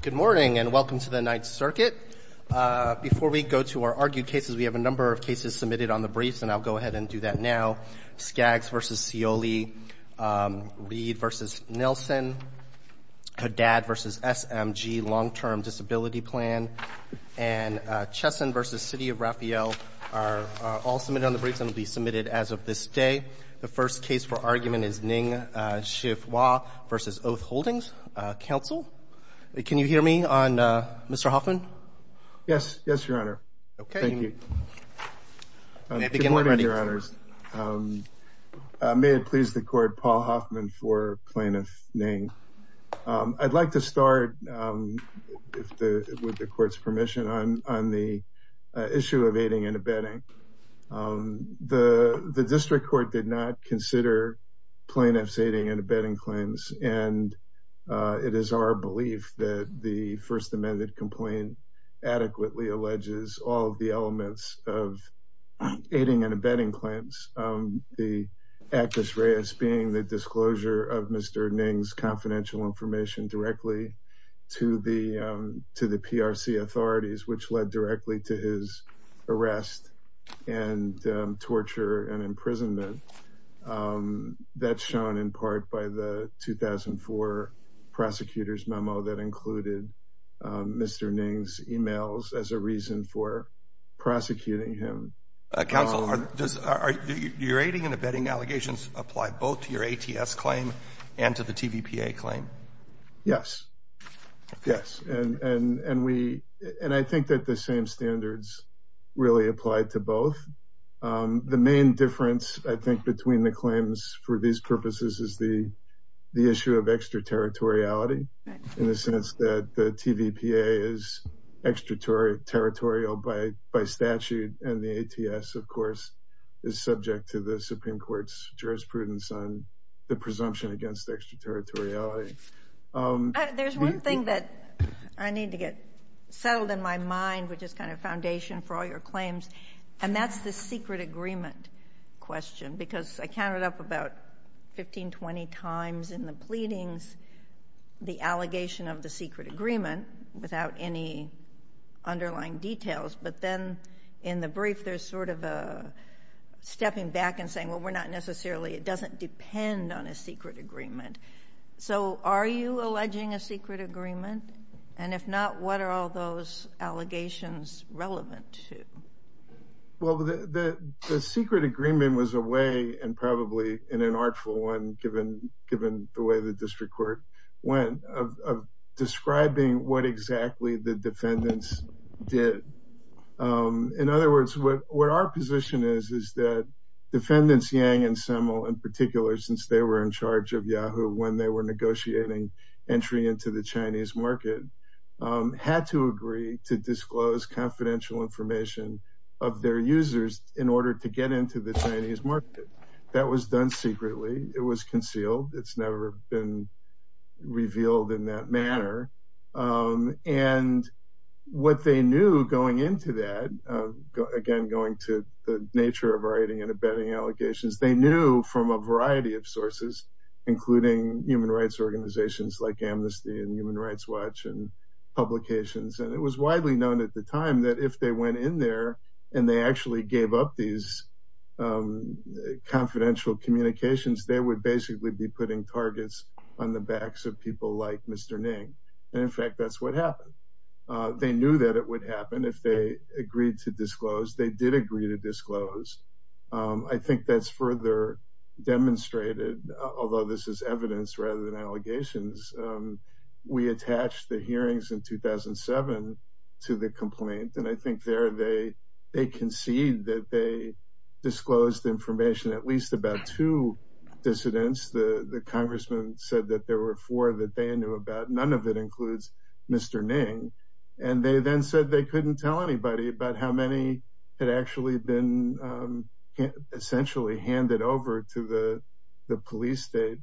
Good morning, and welcome to the Ninth Circuit. Before we go to our argued cases, we have a number of cases submitted on the briefs, and I'll go ahead and do that now. Skaggs v. Scioli, Reed v. Nelson, Haddad v. SMG, Long-Term Disability Plan, and Chesson v. City of Raphael are all submitted on the briefs and will be submitted as of this day. The first case for argument is Ning Xiehua v. Oath Holdings. Counsel, can you hear me on Mr. Hoffman? Yes, yes, Your Honor. Thank you. Good morning, Your Honors. May it please the Court, Paul Hoffman for Plaintiff Ning. I'd like to start, with the Court's permission, on the issue of aiding and abetting. The District Court did not consider plaintiffs' aiding and abetting claims, and it is our belief that the First Amendment complaint adequately alleges all of the elements of aiding and abetting claims. The actus reus being the disclosure of Mr. Ning's confidential information directly to the PRC authorities, which led directly to his arrest and torture and imprisonment, that's shown in part by the 2004 prosecutor's memo that included Mr. Ning's emails as a reason for prosecuting him. Counsel, do your aiding and abetting allegations apply both to your ATS claim and to the TVPA claim? Yes, yes, and I think that the same standards really apply to both. The main difference, I think, between the claims for these purposes is the issue of extraterritoriality, in the sense that the TVPA is extraterritorial by statute, and the ATS, of course, is subject to the Supreme Court's jurisprudence on the presumption against extraterritoriality. There's one thing that I need to get settled in my mind, which is kind of foundation for all your claims, and that's the secret agreement question, because I counted up about 15, 20 times in the pleadings the allegation of the secret agreement without any underlying details, but then in the brief there's sort of a stepping back and saying, well, we're not necessarily, it doesn't depend on a secret agreement. So are you alleging a secret agreement? And if not, what are all those allegations relevant to? Well, the secret agreement was a way, and probably an unartful one, given the way the district court went, of describing what exactly the defendants did. In other words, what our position is, is that defendants Yang and Semmel, in particular since they were in charge of Yahoo when they were negotiating entry into the Chinese market, had to agree to disclose confidential information of their users in order to get into the Chinese market. That was done secretly. It was concealed. It's never been revealed in that manner. And what they knew going into that, again, going to the nature of writing and abetting allegations, they knew from a variety of sources, including human rights organizations like Amnesty and Human Rights Watch and publications. And it was widely known at the time that if they went in there and they actually gave up these confidential communications, they would basically be putting targets on the backs of people like Mr. Ning. And in fact, that's what happened. They knew that it would happen if they agreed to disclose. They did agree to disclose. I think that's further demonstrated, although this is evidence rather than allegations. We attached the hearings in 2007 to the complaint. And I think there they concede that they disclosed information at least about two dissidents. The congressman said that there were four that they knew about. None of it includes Mr. Ning. And they then said they couldn't tell anybody about how many had actually been essentially handed over to the police state.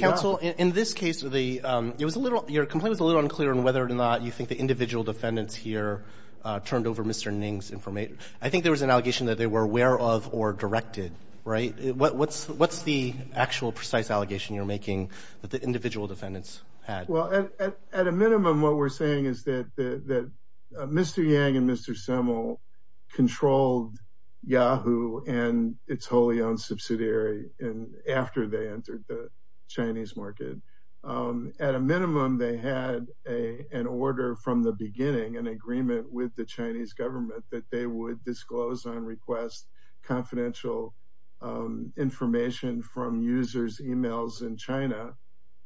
Counsel, in this case, your complaint was a little unclear on whether or not you think the individual defendants here turned over Mr. Ning's information. I think there was an allegation that they were aware of or directed, right? What's the actual precise allegation you're making that the individual defendants had? Well, at a minimum, what we're saying is that Mr. Yang and Mr. Simmel controlled Yahoo and its wholly owned subsidiary after they entered the Chinese market. At a minimum, they had an order from the beginning, an agreement with the Chinese government that they would disclose and request confidential information from users' emails in China.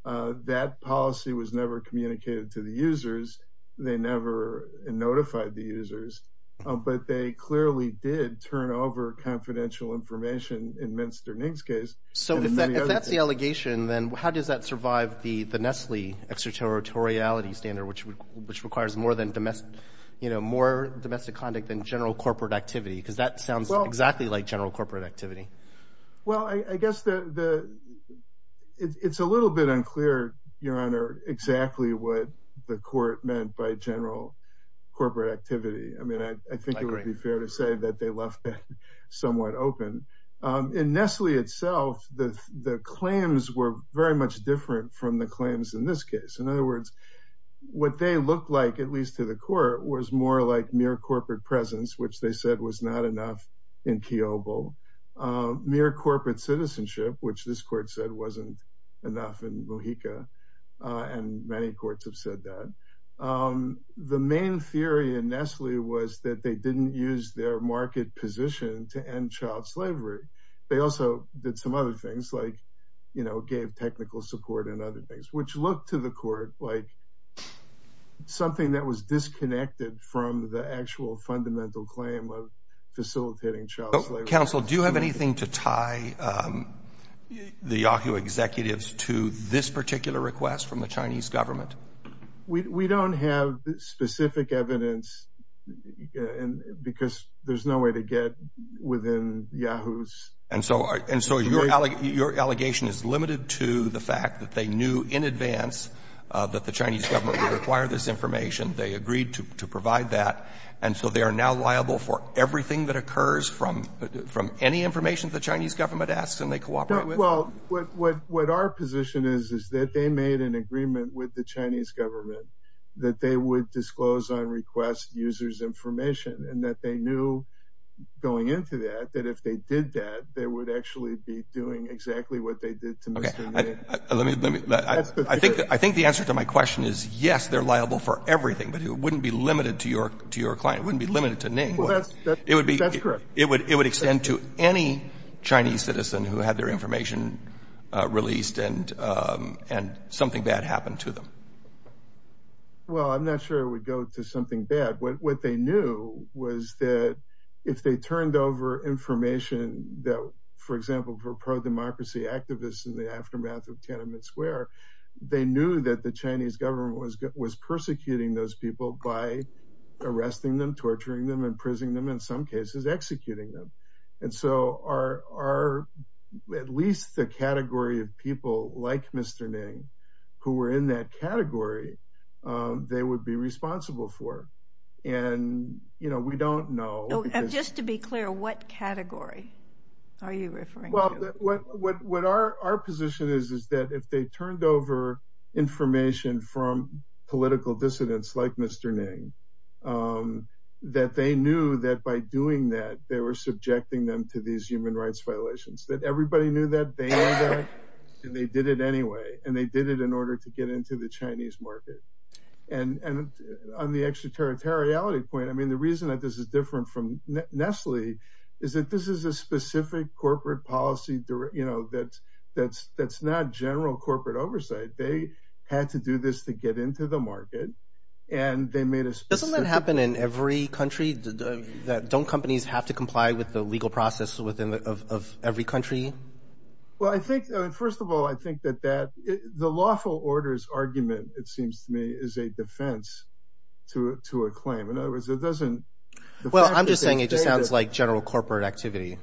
That policy was never communicated to the users. They never notified the users. But they clearly did turn over confidential information in Mr. Ning's case. So if that's the allegation, then how does that survive the Nestle extraterritoriality standard, which requires more domestic conduct than general corporate activity? Because that sounds exactly like general corporate activity. Well, I guess it's a little bit unclear, Your Honor, exactly what the court meant by general corporate activity. I mean, I think it would be fair to say that they left that somewhat open. In Nestle itself, the claims were very much different from the claims in this case. In other words, what they looked like, at least to the court, was more like mere corporate presence, which they said was not enough in Kiobel. Mere corporate citizenship, which this court said wasn't enough in Mojica, and many courts have said that. The main theory in Nestle was that they didn't use their market position to end child slavery. They also did some other things, like gave technical support and other things, which looked to the court like something that was disconnected from the actual fundamental claim of facilitating child slavery. Counsel, do you have anything to tie the Yahoo executives to this particular request from the Chinese government? We don't have specific evidence because there's no way to get within Yahoo's. And so your allegation is limited to the fact that they knew in advance that the Chinese government would require this information. They agreed to provide that. And so they are now liable for everything that occurs from any information the Chinese government asks and they cooperate with? Well, what our position is is that they made an agreement with the Chinese government that they would disclose on request users' information, and that they knew going into that that if they did that, they would actually be doing exactly what they did to Mr. Lin. I think the answer to my question is yes, they're liable for everything, but it wouldn't be limited to your client. It wouldn't be limited to Ning. Well, that's correct. It would extend to any Chinese citizen who had their information released and something bad happened to them. Well, I'm not sure it would go to something bad. What they knew was that if they turned over information that, for example, for pro-democracy activists in the aftermath of Tiananmen Square, they knew that the Chinese government was persecuting those people by arresting them, torturing them, imprisoning them, in some cases executing them. And so at least the category of people like Mr. Ning who were in that category, they would be responsible for. And we don't know. Just to be clear, what category are you referring to? Well, what our position is is that if they turned over information from political dissidents like Mr. Ning, that they knew that by doing that, they were subjecting them to these human rights violations. That everybody knew that, they knew that, and they did it anyway. And they did it in order to get into the Chinese market. And on the extraterritoriality point, I mean, the reason that this is different from Nestle is that this is a specific corporate policy that's not general corporate oversight. They had to do this to get into the market. Doesn't that happen in every country? Don't companies have to comply with the legal process of every country? Well, I think, first of all, I think that the lawful orders argument, it seems to me, is a defense to a claim. Well, I'm just saying it just sounds like general corporate activity.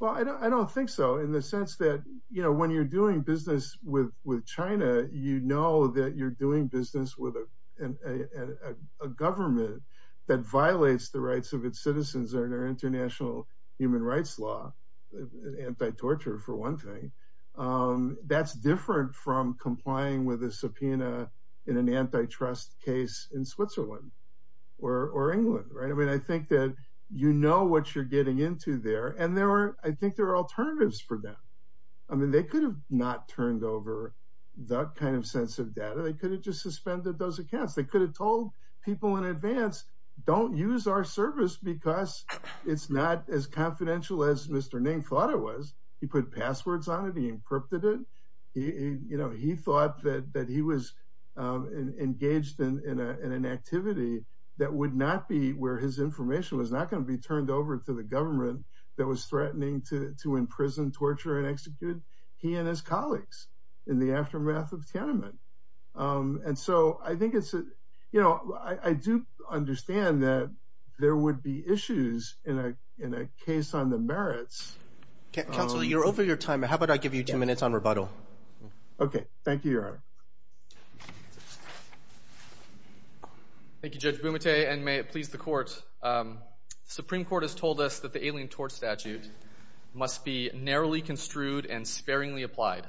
Well, I don't think so in the sense that, you know, when you're doing business with China, you know that you're doing business with a government that violates the rights of its citizens under international human rights law. Anti-torture, for one thing. That's different from complying with a subpoena in an antitrust case in Switzerland or England. Right. I mean, I think that you know what you're getting into there. And there are I think there are alternatives for that. I mean, they could have not turned over that kind of sense of data. They could have just suspended those accounts. They could have told people in advance, don't use our service because it's not as confidential as Mr. Ning thought it was. He put passwords on it. He encrypted it. You know, he thought that he was engaged in an activity that would not be where his information was not going to be turned over to the government. That was threatening to to imprison, torture and execute he and his colleagues in the aftermath of Tiananmen. And so I think it's, you know, I do understand that there would be issues in a in a case on the merits. Counselor, you're over your time. How about I give you two minutes on rebuttal? OK, thank you, Your Honor. Thank you, Judge Bumate, and may it please the court. Supreme Court has told us that the Alien Tort Statute must be narrowly construed and sparingly applied.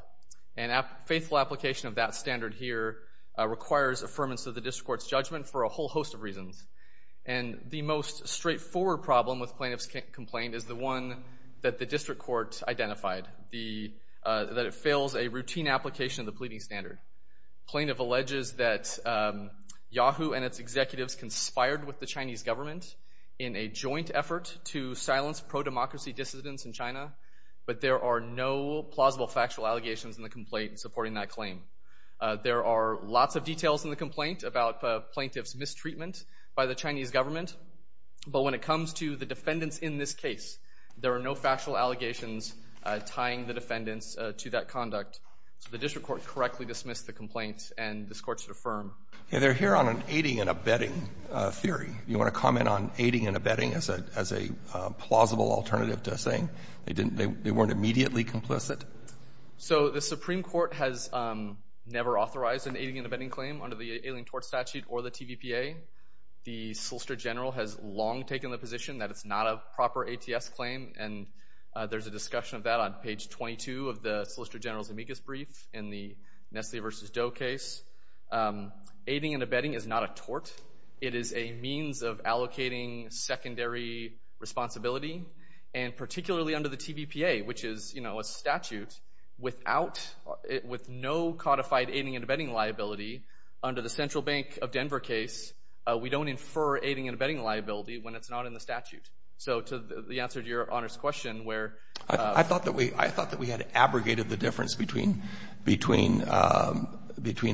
And a faithful application of that standard here requires affirmance of the district court's judgment for a whole host of reasons. And the most straightforward problem with plaintiff's complaint is the one that the district court identified, the that it fails a routine application of the pleading standard. Plaintiff alleges that Yahoo and its executives conspired with the Chinese government in a joint effort to silence pro-democracy dissidents in China. But there are no plausible factual allegations in the complaint supporting that claim. There are lots of details in the complaint about plaintiff's mistreatment by the Chinese government. But when it comes to the defendants in this case, there are no factual allegations tying the defendants to that conduct. So the district court correctly dismissed the complaints and this court should affirm. They're here on an aiding and abetting theory. You want to comment on aiding and abetting as a plausible alternative to saying they weren't immediately complicit? So the Supreme Court has never authorized an aiding and abetting claim under the ailing tort statute or the TVPA. The Solicitor General has long taken the position that it's not a proper ATS claim. And there's a discussion of that on page 22 of the Solicitor General's amicus brief in the Nestle versus Doe case. Aiding and abetting is not a tort. It is a means of allocating secondary responsibility. And particularly under the TVPA, which is a statute with no codified aiding and abetting liability, under the Central Bank of Denver case, we don't infer aiding and abetting liability when it's not in the statute. So to the answer to Your Honor's question where— I thought that we had abrogated the difference between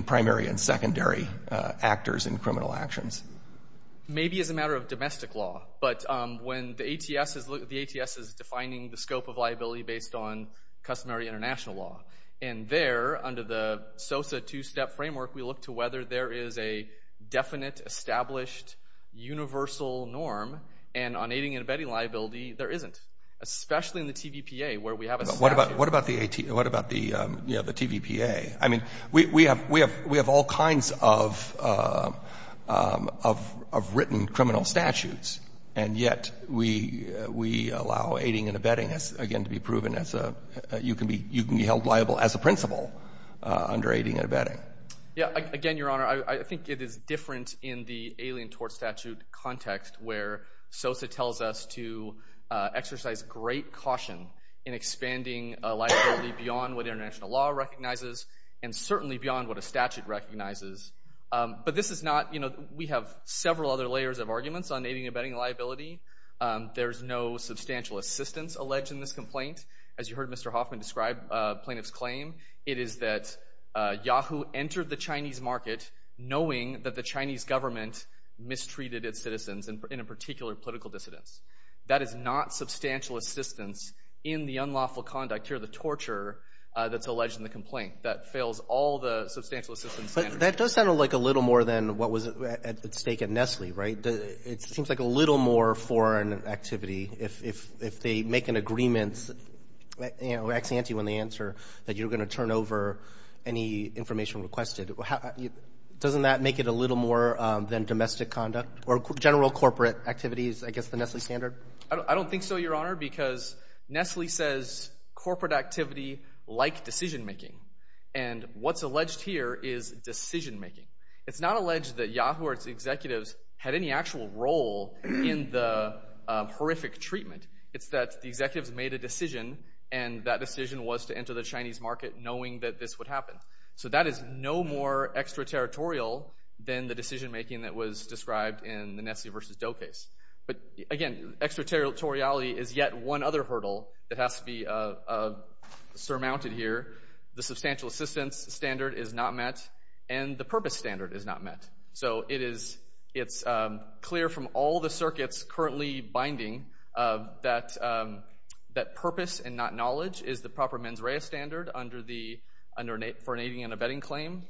primary and secondary actors in criminal actions. Maybe as a matter of domestic law. But when the ATS is defining the scope of liability based on customary international law. And there, under the SOSA two-step framework, we look to whether there is a definite, established, universal norm. And on aiding and abetting liability, there isn't, especially in the TVPA where we have a statute. What about the TVPA? I mean, we have all kinds of written criminal statutes. And yet, we allow aiding and abetting, again, to be proven as a—you can be held liable as a principal under aiding and abetting. Yeah, again, Your Honor, I think it is different in the alien tort statute context where SOSA tells us to exercise great caution in expanding liability beyond what international law recognizes and certainly beyond what a statute recognizes. But this is not—we have several other layers of arguments on aiding and abetting liability. There is no substantial assistance alleged in this complaint. As you heard Mr. Hoffman describe plaintiff's claim, it is that Yahoo entered the Chinese market knowing that the Chinese government mistreated its citizens, and in particular, political dissidents. That is not substantial assistance in the unlawful conduct here, the torture that's alleged in the complaint. That fails all the substantial assistance standards. But that does sound like a little more than what was at stake at Nestle, right? It seems like a little more foreign activity. If they make an agreement, you know, ex ante when they answer that you're going to turn over any information requested, doesn't that make it a little more than domestic conduct or general corporate activities, I guess, the Nestle standard? I don't think so, Your Honor, because Nestle says corporate activity like decision-making. And what's alleged here is decision-making. It's not alleged that Yahoo or its executives had any actual role in the horrific treatment. It's that the executives made a decision, and that decision was to enter the Chinese market knowing that this would happen. So that is no more extraterritorial than the decision-making that was described in the Nestle v. Doe case. But again, extraterritoriality is yet one other hurdle that has to be surmounted here. The substantial assistance standard is not met, and the purpose standard is not met. So it's clear from all the circuits currently binding that purpose and not knowledge is the proper mens rea standard for an aiding and abetting claim.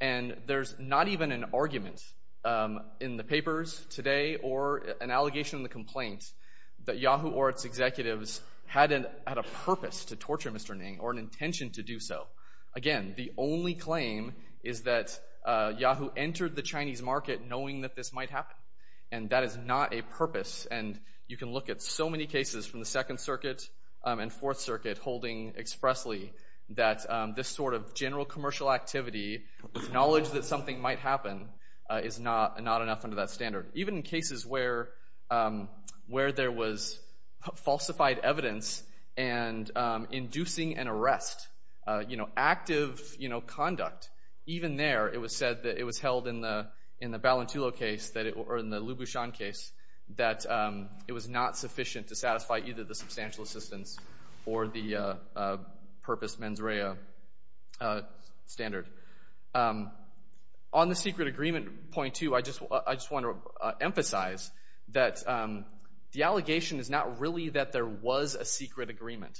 And there's not even an argument in the papers today or an allegation in the complaint that Yahoo or its executives had a purpose to torture Mr. Ning or an intention to do so. Again, the only claim is that Yahoo entered the Chinese market knowing that this might happen, and that is not a purpose. And you can look at so many cases from the Second Circuit and Fourth Circuit holding expressly that this sort of general commercial activity with knowledge that something might happen is not enough under that standard. Even in cases where there was falsified evidence and inducing an arrest, active conduct, even there it was said that it was held in the Balintulo case or in the Lubushan case that it was not sufficient to satisfy either the substantial assistance or the purpose mens rea standard. On the secret agreement point, too, I just want to emphasize that the allegation is not really that there was a secret agreement.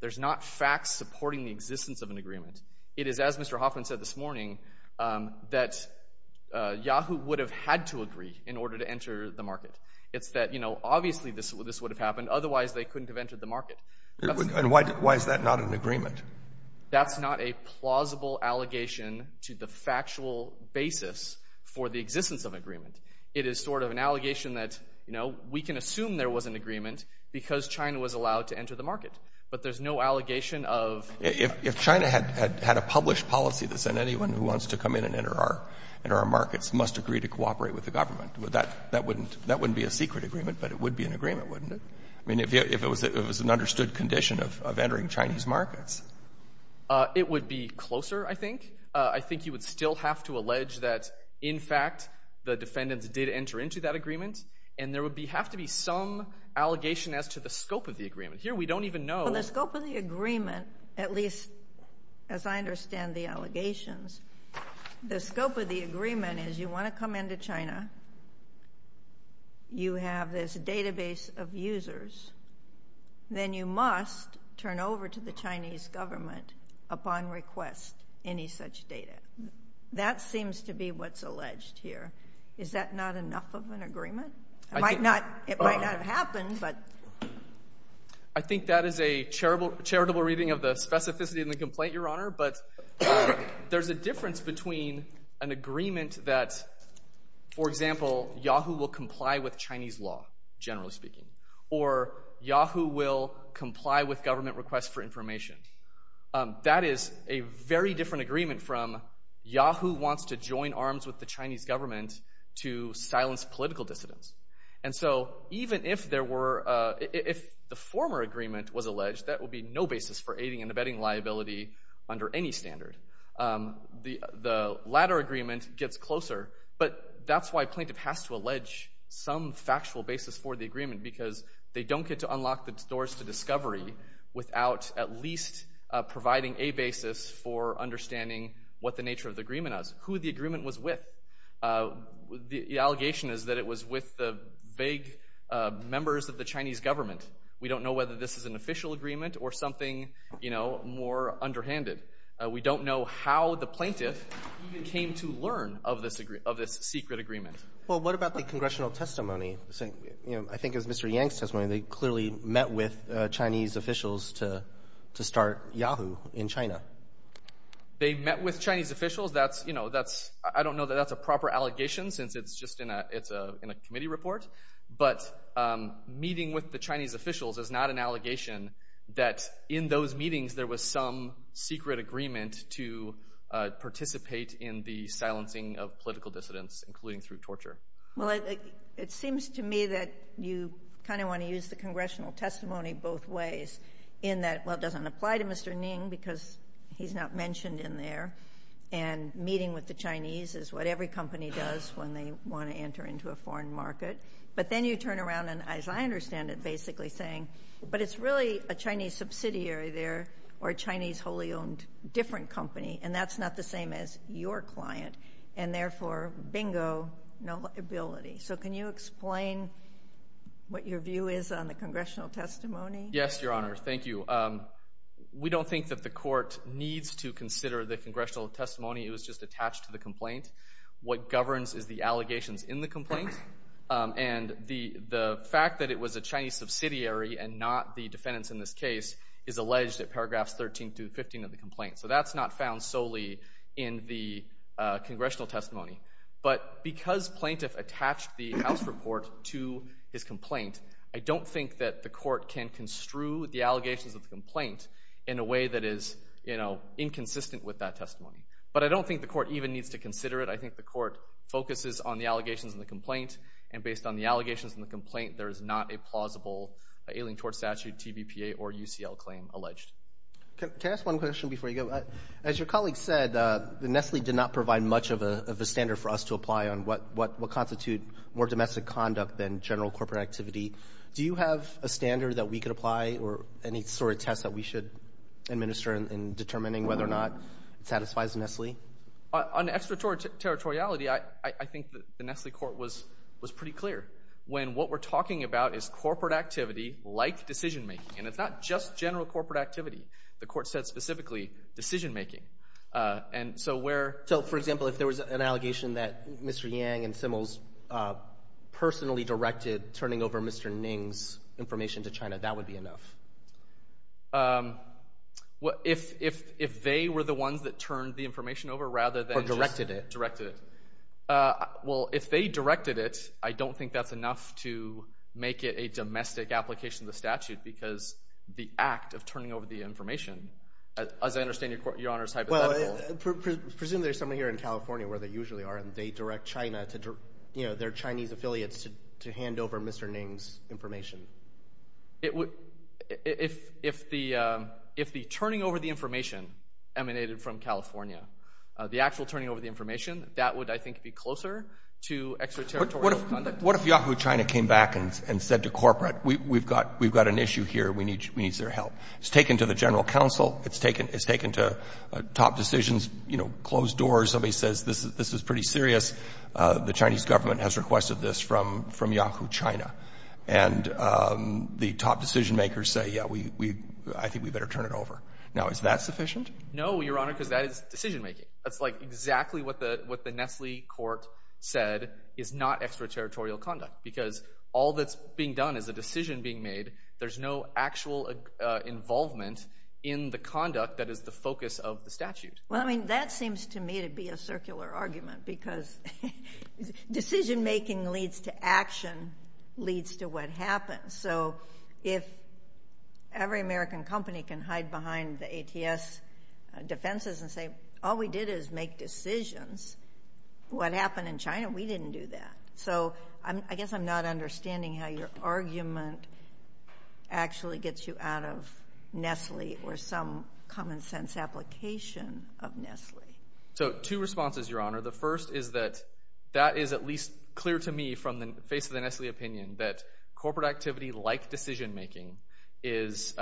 There's not facts supporting the existence of an agreement. It is, as Mr. Hoffman said this morning, that Yahoo would have had to agree in order to enter the market. It's that, you know, obviously this would have happened, otherwise they couldn't have entered the market. And why is that not an agreement? That's not a plausible allegation to the factual basis for the existence of an agreement. It is sort of an allegation that, you know, we can assume there was an agreement because China was allowed to enter the market. But there's no allegation of… If China had a published policy that said anyone who wants to come in and enter our markets must agree to cooperate with the government, that wouldn't be a secret agreement, but it would be an agreement, wouldn't it? I mean, if it was an understood condition of entering Chinese markets. It would be closer, I think. I think you would still have to allege that, in fact, the defendants did enter into that agreement, and there would have to be some allegation as to the scope of the agreement. Here we don't even know… The scope of the agreement, at least as I understand the allegations, the scope of the agreement is you want to come into China, you have this database of users, then you must turn over to the Chinese government upon request any such data. That seems to be what's alleged here. Is that not enough of an agreement? It might not have happened, but… I think that is a charitable reading of the specificity of the complaint, Your Honor, but there's a difference between an agreement that, for example, Yahoo will comply with Chinese law, generally speaking, or Yahoo will comply with government requests for information. That is a very different agreement from Yahoo wants to join arms with the Chinese government to silence political dissidents. Even if the former agreement was alleged, that would be no basis for aiding and abetting liability under any standard. The latter agreement gets closer, but that's why a plaintiff has to allege some factual basis for the agreement because they don't get to unlock the doors to discovery without at least providing a basis for understanding what the nature of the agreement is, who the agreement was with. The allegation is that it was with the vague members of the Chinese government. We don't know whether this is an official agreement or something more underhanded. We don't know how the plaintiff even came to learn of this secret agreement. Well, what about the congressional testimony? I think it was Mr. Yang's testimony. They clearly met with Chinese officials to start Yahoo in China. They met with Chinese officials? I don't know that that's a proper allegation since it's just in a committee report, but meeting with the Chinese officials is not an allegation that in those meetings there was some secret agreement to participate in the silencing of political dissidents, including through torture. Well, it seems to me that you kind of want to use the congressional testimony both ways in that, well, it doesn't apply to Mr. Ning because he's not mentioned in there, and meeting with the Chinese is what every company does when they want to enter into a foreign market. But then you turn around and, as I understand it, basically saying, but it's really a Chinese subsidiary there or a Chinese wholly-owned different company, and that's not the same as your client, and therefore, bingo, no liability. So can you explain what your view is on the congressional testimony? Yes, Your Honor, thank you. We don't think that the court needs to consider the congressional testimony. It was just attached to the complaint. What governs is the allegations in the complaint, and the fact that it was a Chinese subsidiary and not the defendants in this case is alleged at paragraphs 13 through 15 of the complaint. So that's not found solely in the congressional testimony. But because plaintiff attached the House report to his complaint, I don't think that the court can construe the allegations of the complaint in a way that is inconsistent with that testimony. But I don't think the court even needs to consider it. I think the court focuses on the allegations in the complaint, and based on the allegations in the complaint, there is not a plausible ailing tort statute, TBPA, or UCL claim alleged. Can I ask one question before you go? As your colleague said, Nestle did not provide much of a standard for us to apply on what constitutes more domestic conduct than general corporate activity. Do you have a standard that we could apply or any sort of test that we should administer in determining whether or not it satisfies Nestle? On extraterritoriality, I think the Nestle court was pretty clear. When what we're talking about is corporate activity like decision-making, and it's not just general corporate activity. The court said specifically decision-making. So, for example, if there was an allegation that Mr. Yang and Simmels personally directed turning over Mr. Ning's information to China, that would be enough? If they were the ones that turned the information over rather than just directed it. Well, if they directed it, I don't think that's enough to make it a domestic application of the statute because the act of turning over the information, as I understand your Honor's hypothetical. Well, presumably there's someone here in California where they usually are, and they direct China, their Chinese affiliates, to hand over Mr. Ning's information. If the turning over the information emanated from California, the actual turning over the information, that would, I think, be closer to extraterritorial conduct. What if Yahoo China came back and said to corporate, we've got an issue here, we need your help. It's taken to the general counsel, it's taken to top decisions, you know, closed doors. Somebody says this is pretty serious. The Chinese government has requested this from Yahoo China. And the top decision-makers say, yeah, I think we better turn it over. Now, is that sufficient? No, your Honor, because that is decision-making. That's like exactly what the Nestle court said is not extraterritorial conduct because all that's being done is a decision being made. There's no actual involvement in the conduct that is the focus of the statute. Well, I mean, that seems to me to be a circular argument because decision-making leads to action, leads to what happens. So if every American company can hide behind the ATS defenses and say, all we did is make decisions, what happened in China, we didn't do that. So I guess I'm not understanding how your argument actually gets you out of Nestle or some common-sense application of Nestle. So two responses, your Honor. The first is that that is at least clear to me from the face of the Nestle opinion that corporate activity like decision-making is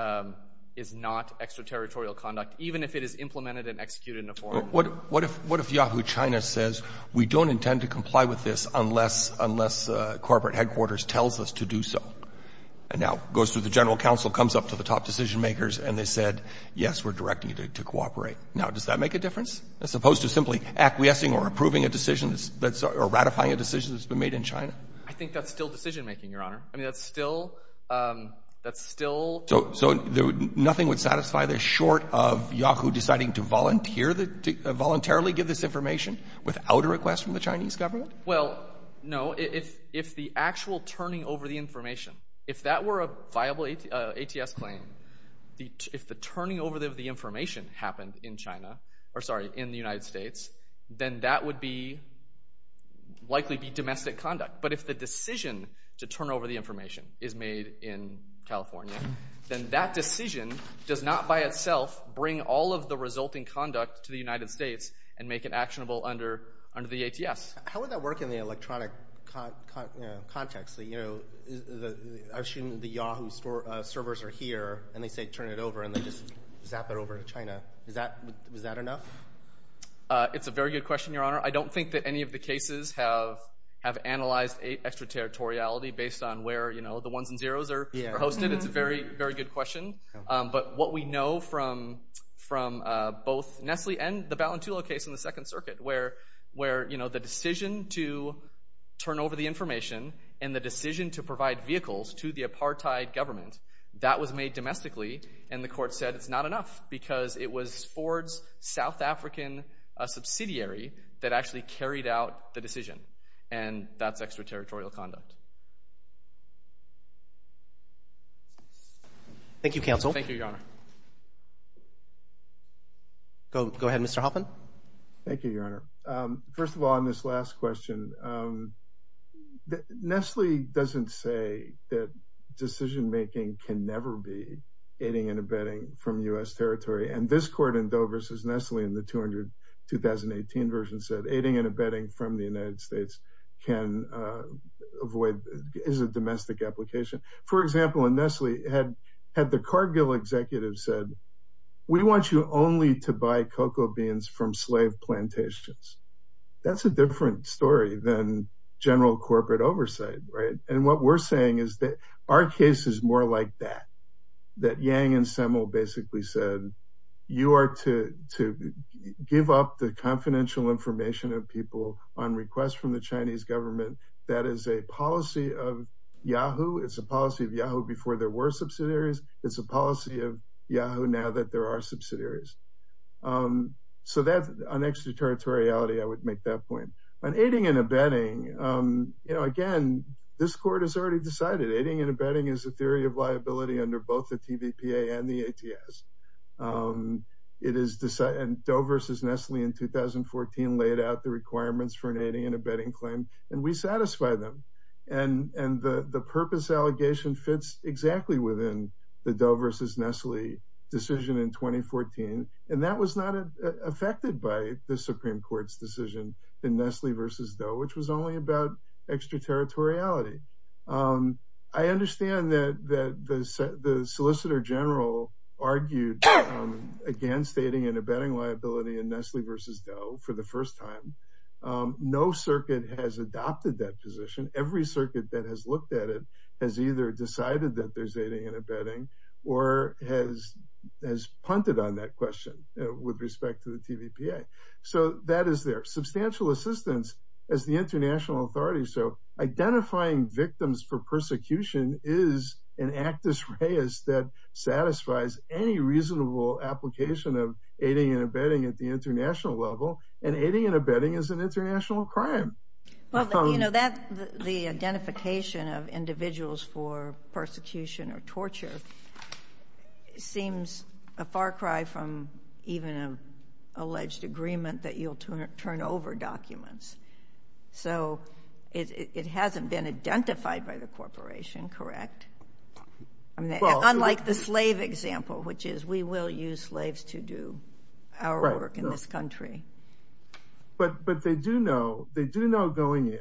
not extraterritorial conduct, What if Yahoo China says, we don't intend to comply with this unless corporate headquarters tells us to do so? And now goes to the general counsel, comes up to the top decision-makers, and they said, yes, we're directing you to cooperate. Now, does that make a difference? As opposed to simply acquiescing or approving a decision or ratifying a decision that's been made in China? I think that's still decision-making, your Honor. I mean, that's still, that's still. So nothing would satisfy this short of Yahoo deciding to volunteer, to voluntarily give this information without a request from the Chinese government? Well, no. If the actual turning over the information, if that were a viable ATS claim, if the turning over of the information happened in China, or sorry, in the United States, then that would be, likely be domestic conduct. But if the decision to turn over the information is made in California, then that decision does not by itself bring all of the resulting conduct to the United States and make it actionable under the ATS. How would that work in the electronic context? You know, I assume the Yahoo servers are here, and they say turn it over, and they just zap it over to China. Is that, was that enough? It's a very good question, your Honor. I don't think that any of the cases have analyzed extraterritoriality based on where, you know, the ones and zeros are hosted. It's a very, very good question. But what we know from both Nestle and the Balintulo case in the Second Circuit where, you know, the decision to turn over the information and the decision to provide vehicles to the apartheid government, that was made domestically, and the court said it's not enough because it was Ford's South African subsidiary that actually carried out the decision, and that's extraterritorial conduct. Thank you, counsel. Thank you, your Honor. Go ahead, Mr. Hoffman. Thank you, your Honor. First of all, on this last question, Nestle doesn't say that decision-making can never be aiding and abetting from U.S. territory, and this court in Doe v. Nestle in the 200, 2018 version said aiding and abetting from the United States can avoid, is a domestic application. For example, in Nestle, had the Cargill executive said, we want you only to buy cocoa beans from slave plantations, that's a different story than general corporate oversight, right? And what we're saying is that our case is more like that, that Yang and Semmel basically said, you are to give up the confidential information of people on request from the Chinese government, that is a policy of Yahoo, it's a policy of Yahoo before there were subsidiaries, it's a policy of Yahoo now that there are subsidiaries. So that's an extraterritoriality, I would make that point. On aiding and abetting, you know, again, this court has already decided, aiding and abetting is a theory of liability under both the TVPA and the ATS. It is Doe v. Nestle in 2014 laid out the requirements for an aiding and abetting claim, and we satisfy them. And the purpose allegation fits exactly within the Doe v. Nestle decision in 2014, and that was not affected by the Supreme Court's decision in Nestle v. Doe, which was only about extraterritoriality. I understand that the Solicitor General argued against aiding and abetting liability in Nestle v. Doe for the first time. No circuit has adopted that position. Every circuit that has looked at it has either decided that there's aiding and abetting or has punted on that question with respect to the TVPA. So that is there. Substantial assistance as the international authority, so identifying victims for persecution is an actus reus that satisfies any reasonable application of aiding and abetting at the international level, and aiding and abetting is an international crime. Well, you know, the identification of individuals for persecution or torture seems a far cry from even an alleged agreement that you'll turn over documents. So it hasn't been identified by the corporation, correct? Unlike the slave example, which is we will use slaves to do our work in this country. But they do know going in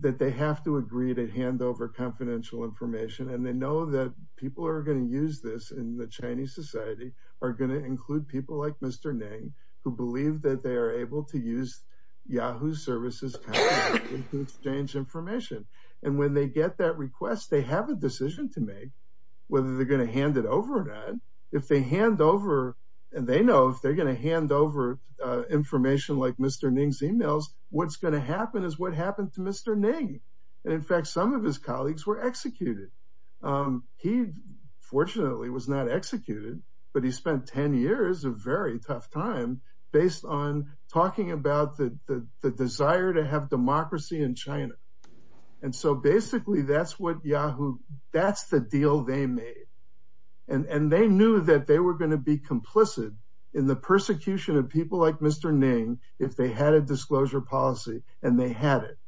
that they have to agree to hand over confidential information, and they know that people who are going to use this in the Chinese society are going to include people like Mr. Ning, who believe that they are able to use Yahoo services to exchange information. And when they get that request, they have a decision to make whether they're going to hand it over or not. If they hand over, and they know if they're going to hand over information like Mr. Ning's emails, what's going to happen is what happened to Mr. Ning. And in fact, some of his colleagues were executed. He fortunately was not executed, but he spent 10 years, a very tough time, based on talking about the desire to have democracy in China. And so basically that's what Yahoo, that's the deal they made. And they knew that they were going to be complicit in the persecution of people like Mr. Ning if they had a disclosure policy, and they had it.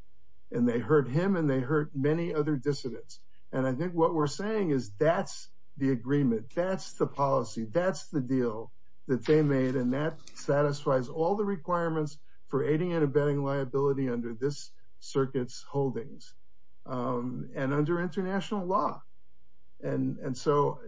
And they hurt him and they hurt many other dissidents. And I think what we're saying is that's the agreement, that's the policy, that's the deal that they made, and that satisfies all the requirements for aiding and abetting liability under this circuit's holdings and under international law. And so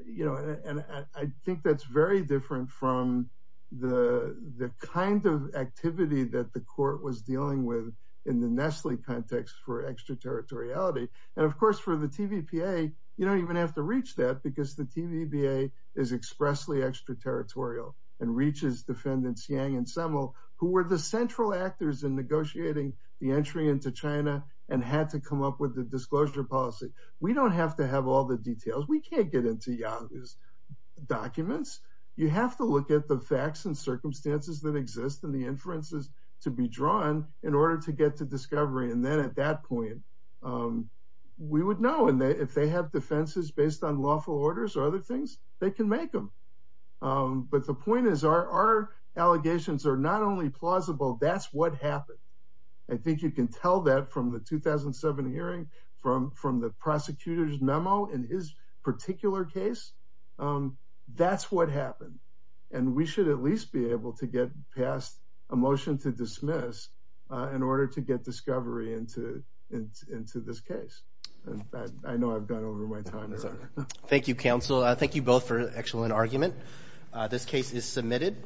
I think that's very different from the kind of activity that the court was dealing with in the Nestle context for extraterritoriality. And of course for the TVPA, you don't even have to reach that because the TVPA is expressly extraterritorial and reaches defendants Yang and Semmel, who were the central actors in negotiating the entry into China and had to come up with the disclosure policy. We don't have to have all the details. We can't get into Yang's documents. You have to look at the facts and circumstances that exist and the inferences to be drawn in order to get to discovery. And then at that point, we would know. And if they have defenses based on lawful orders or other things, they can make them. But the point is our allegations are not only plausible, that's what happened. I think you can tell that from the 2007 hearing, from the prosecutor's memo in his particular case. That's what happened. And we should at least be able to get past a motion to dismiss in order to get discovery into this case. I know I've gone over my time. Thank you, counsel. Thank you both for an excellent argument. This case is submitted.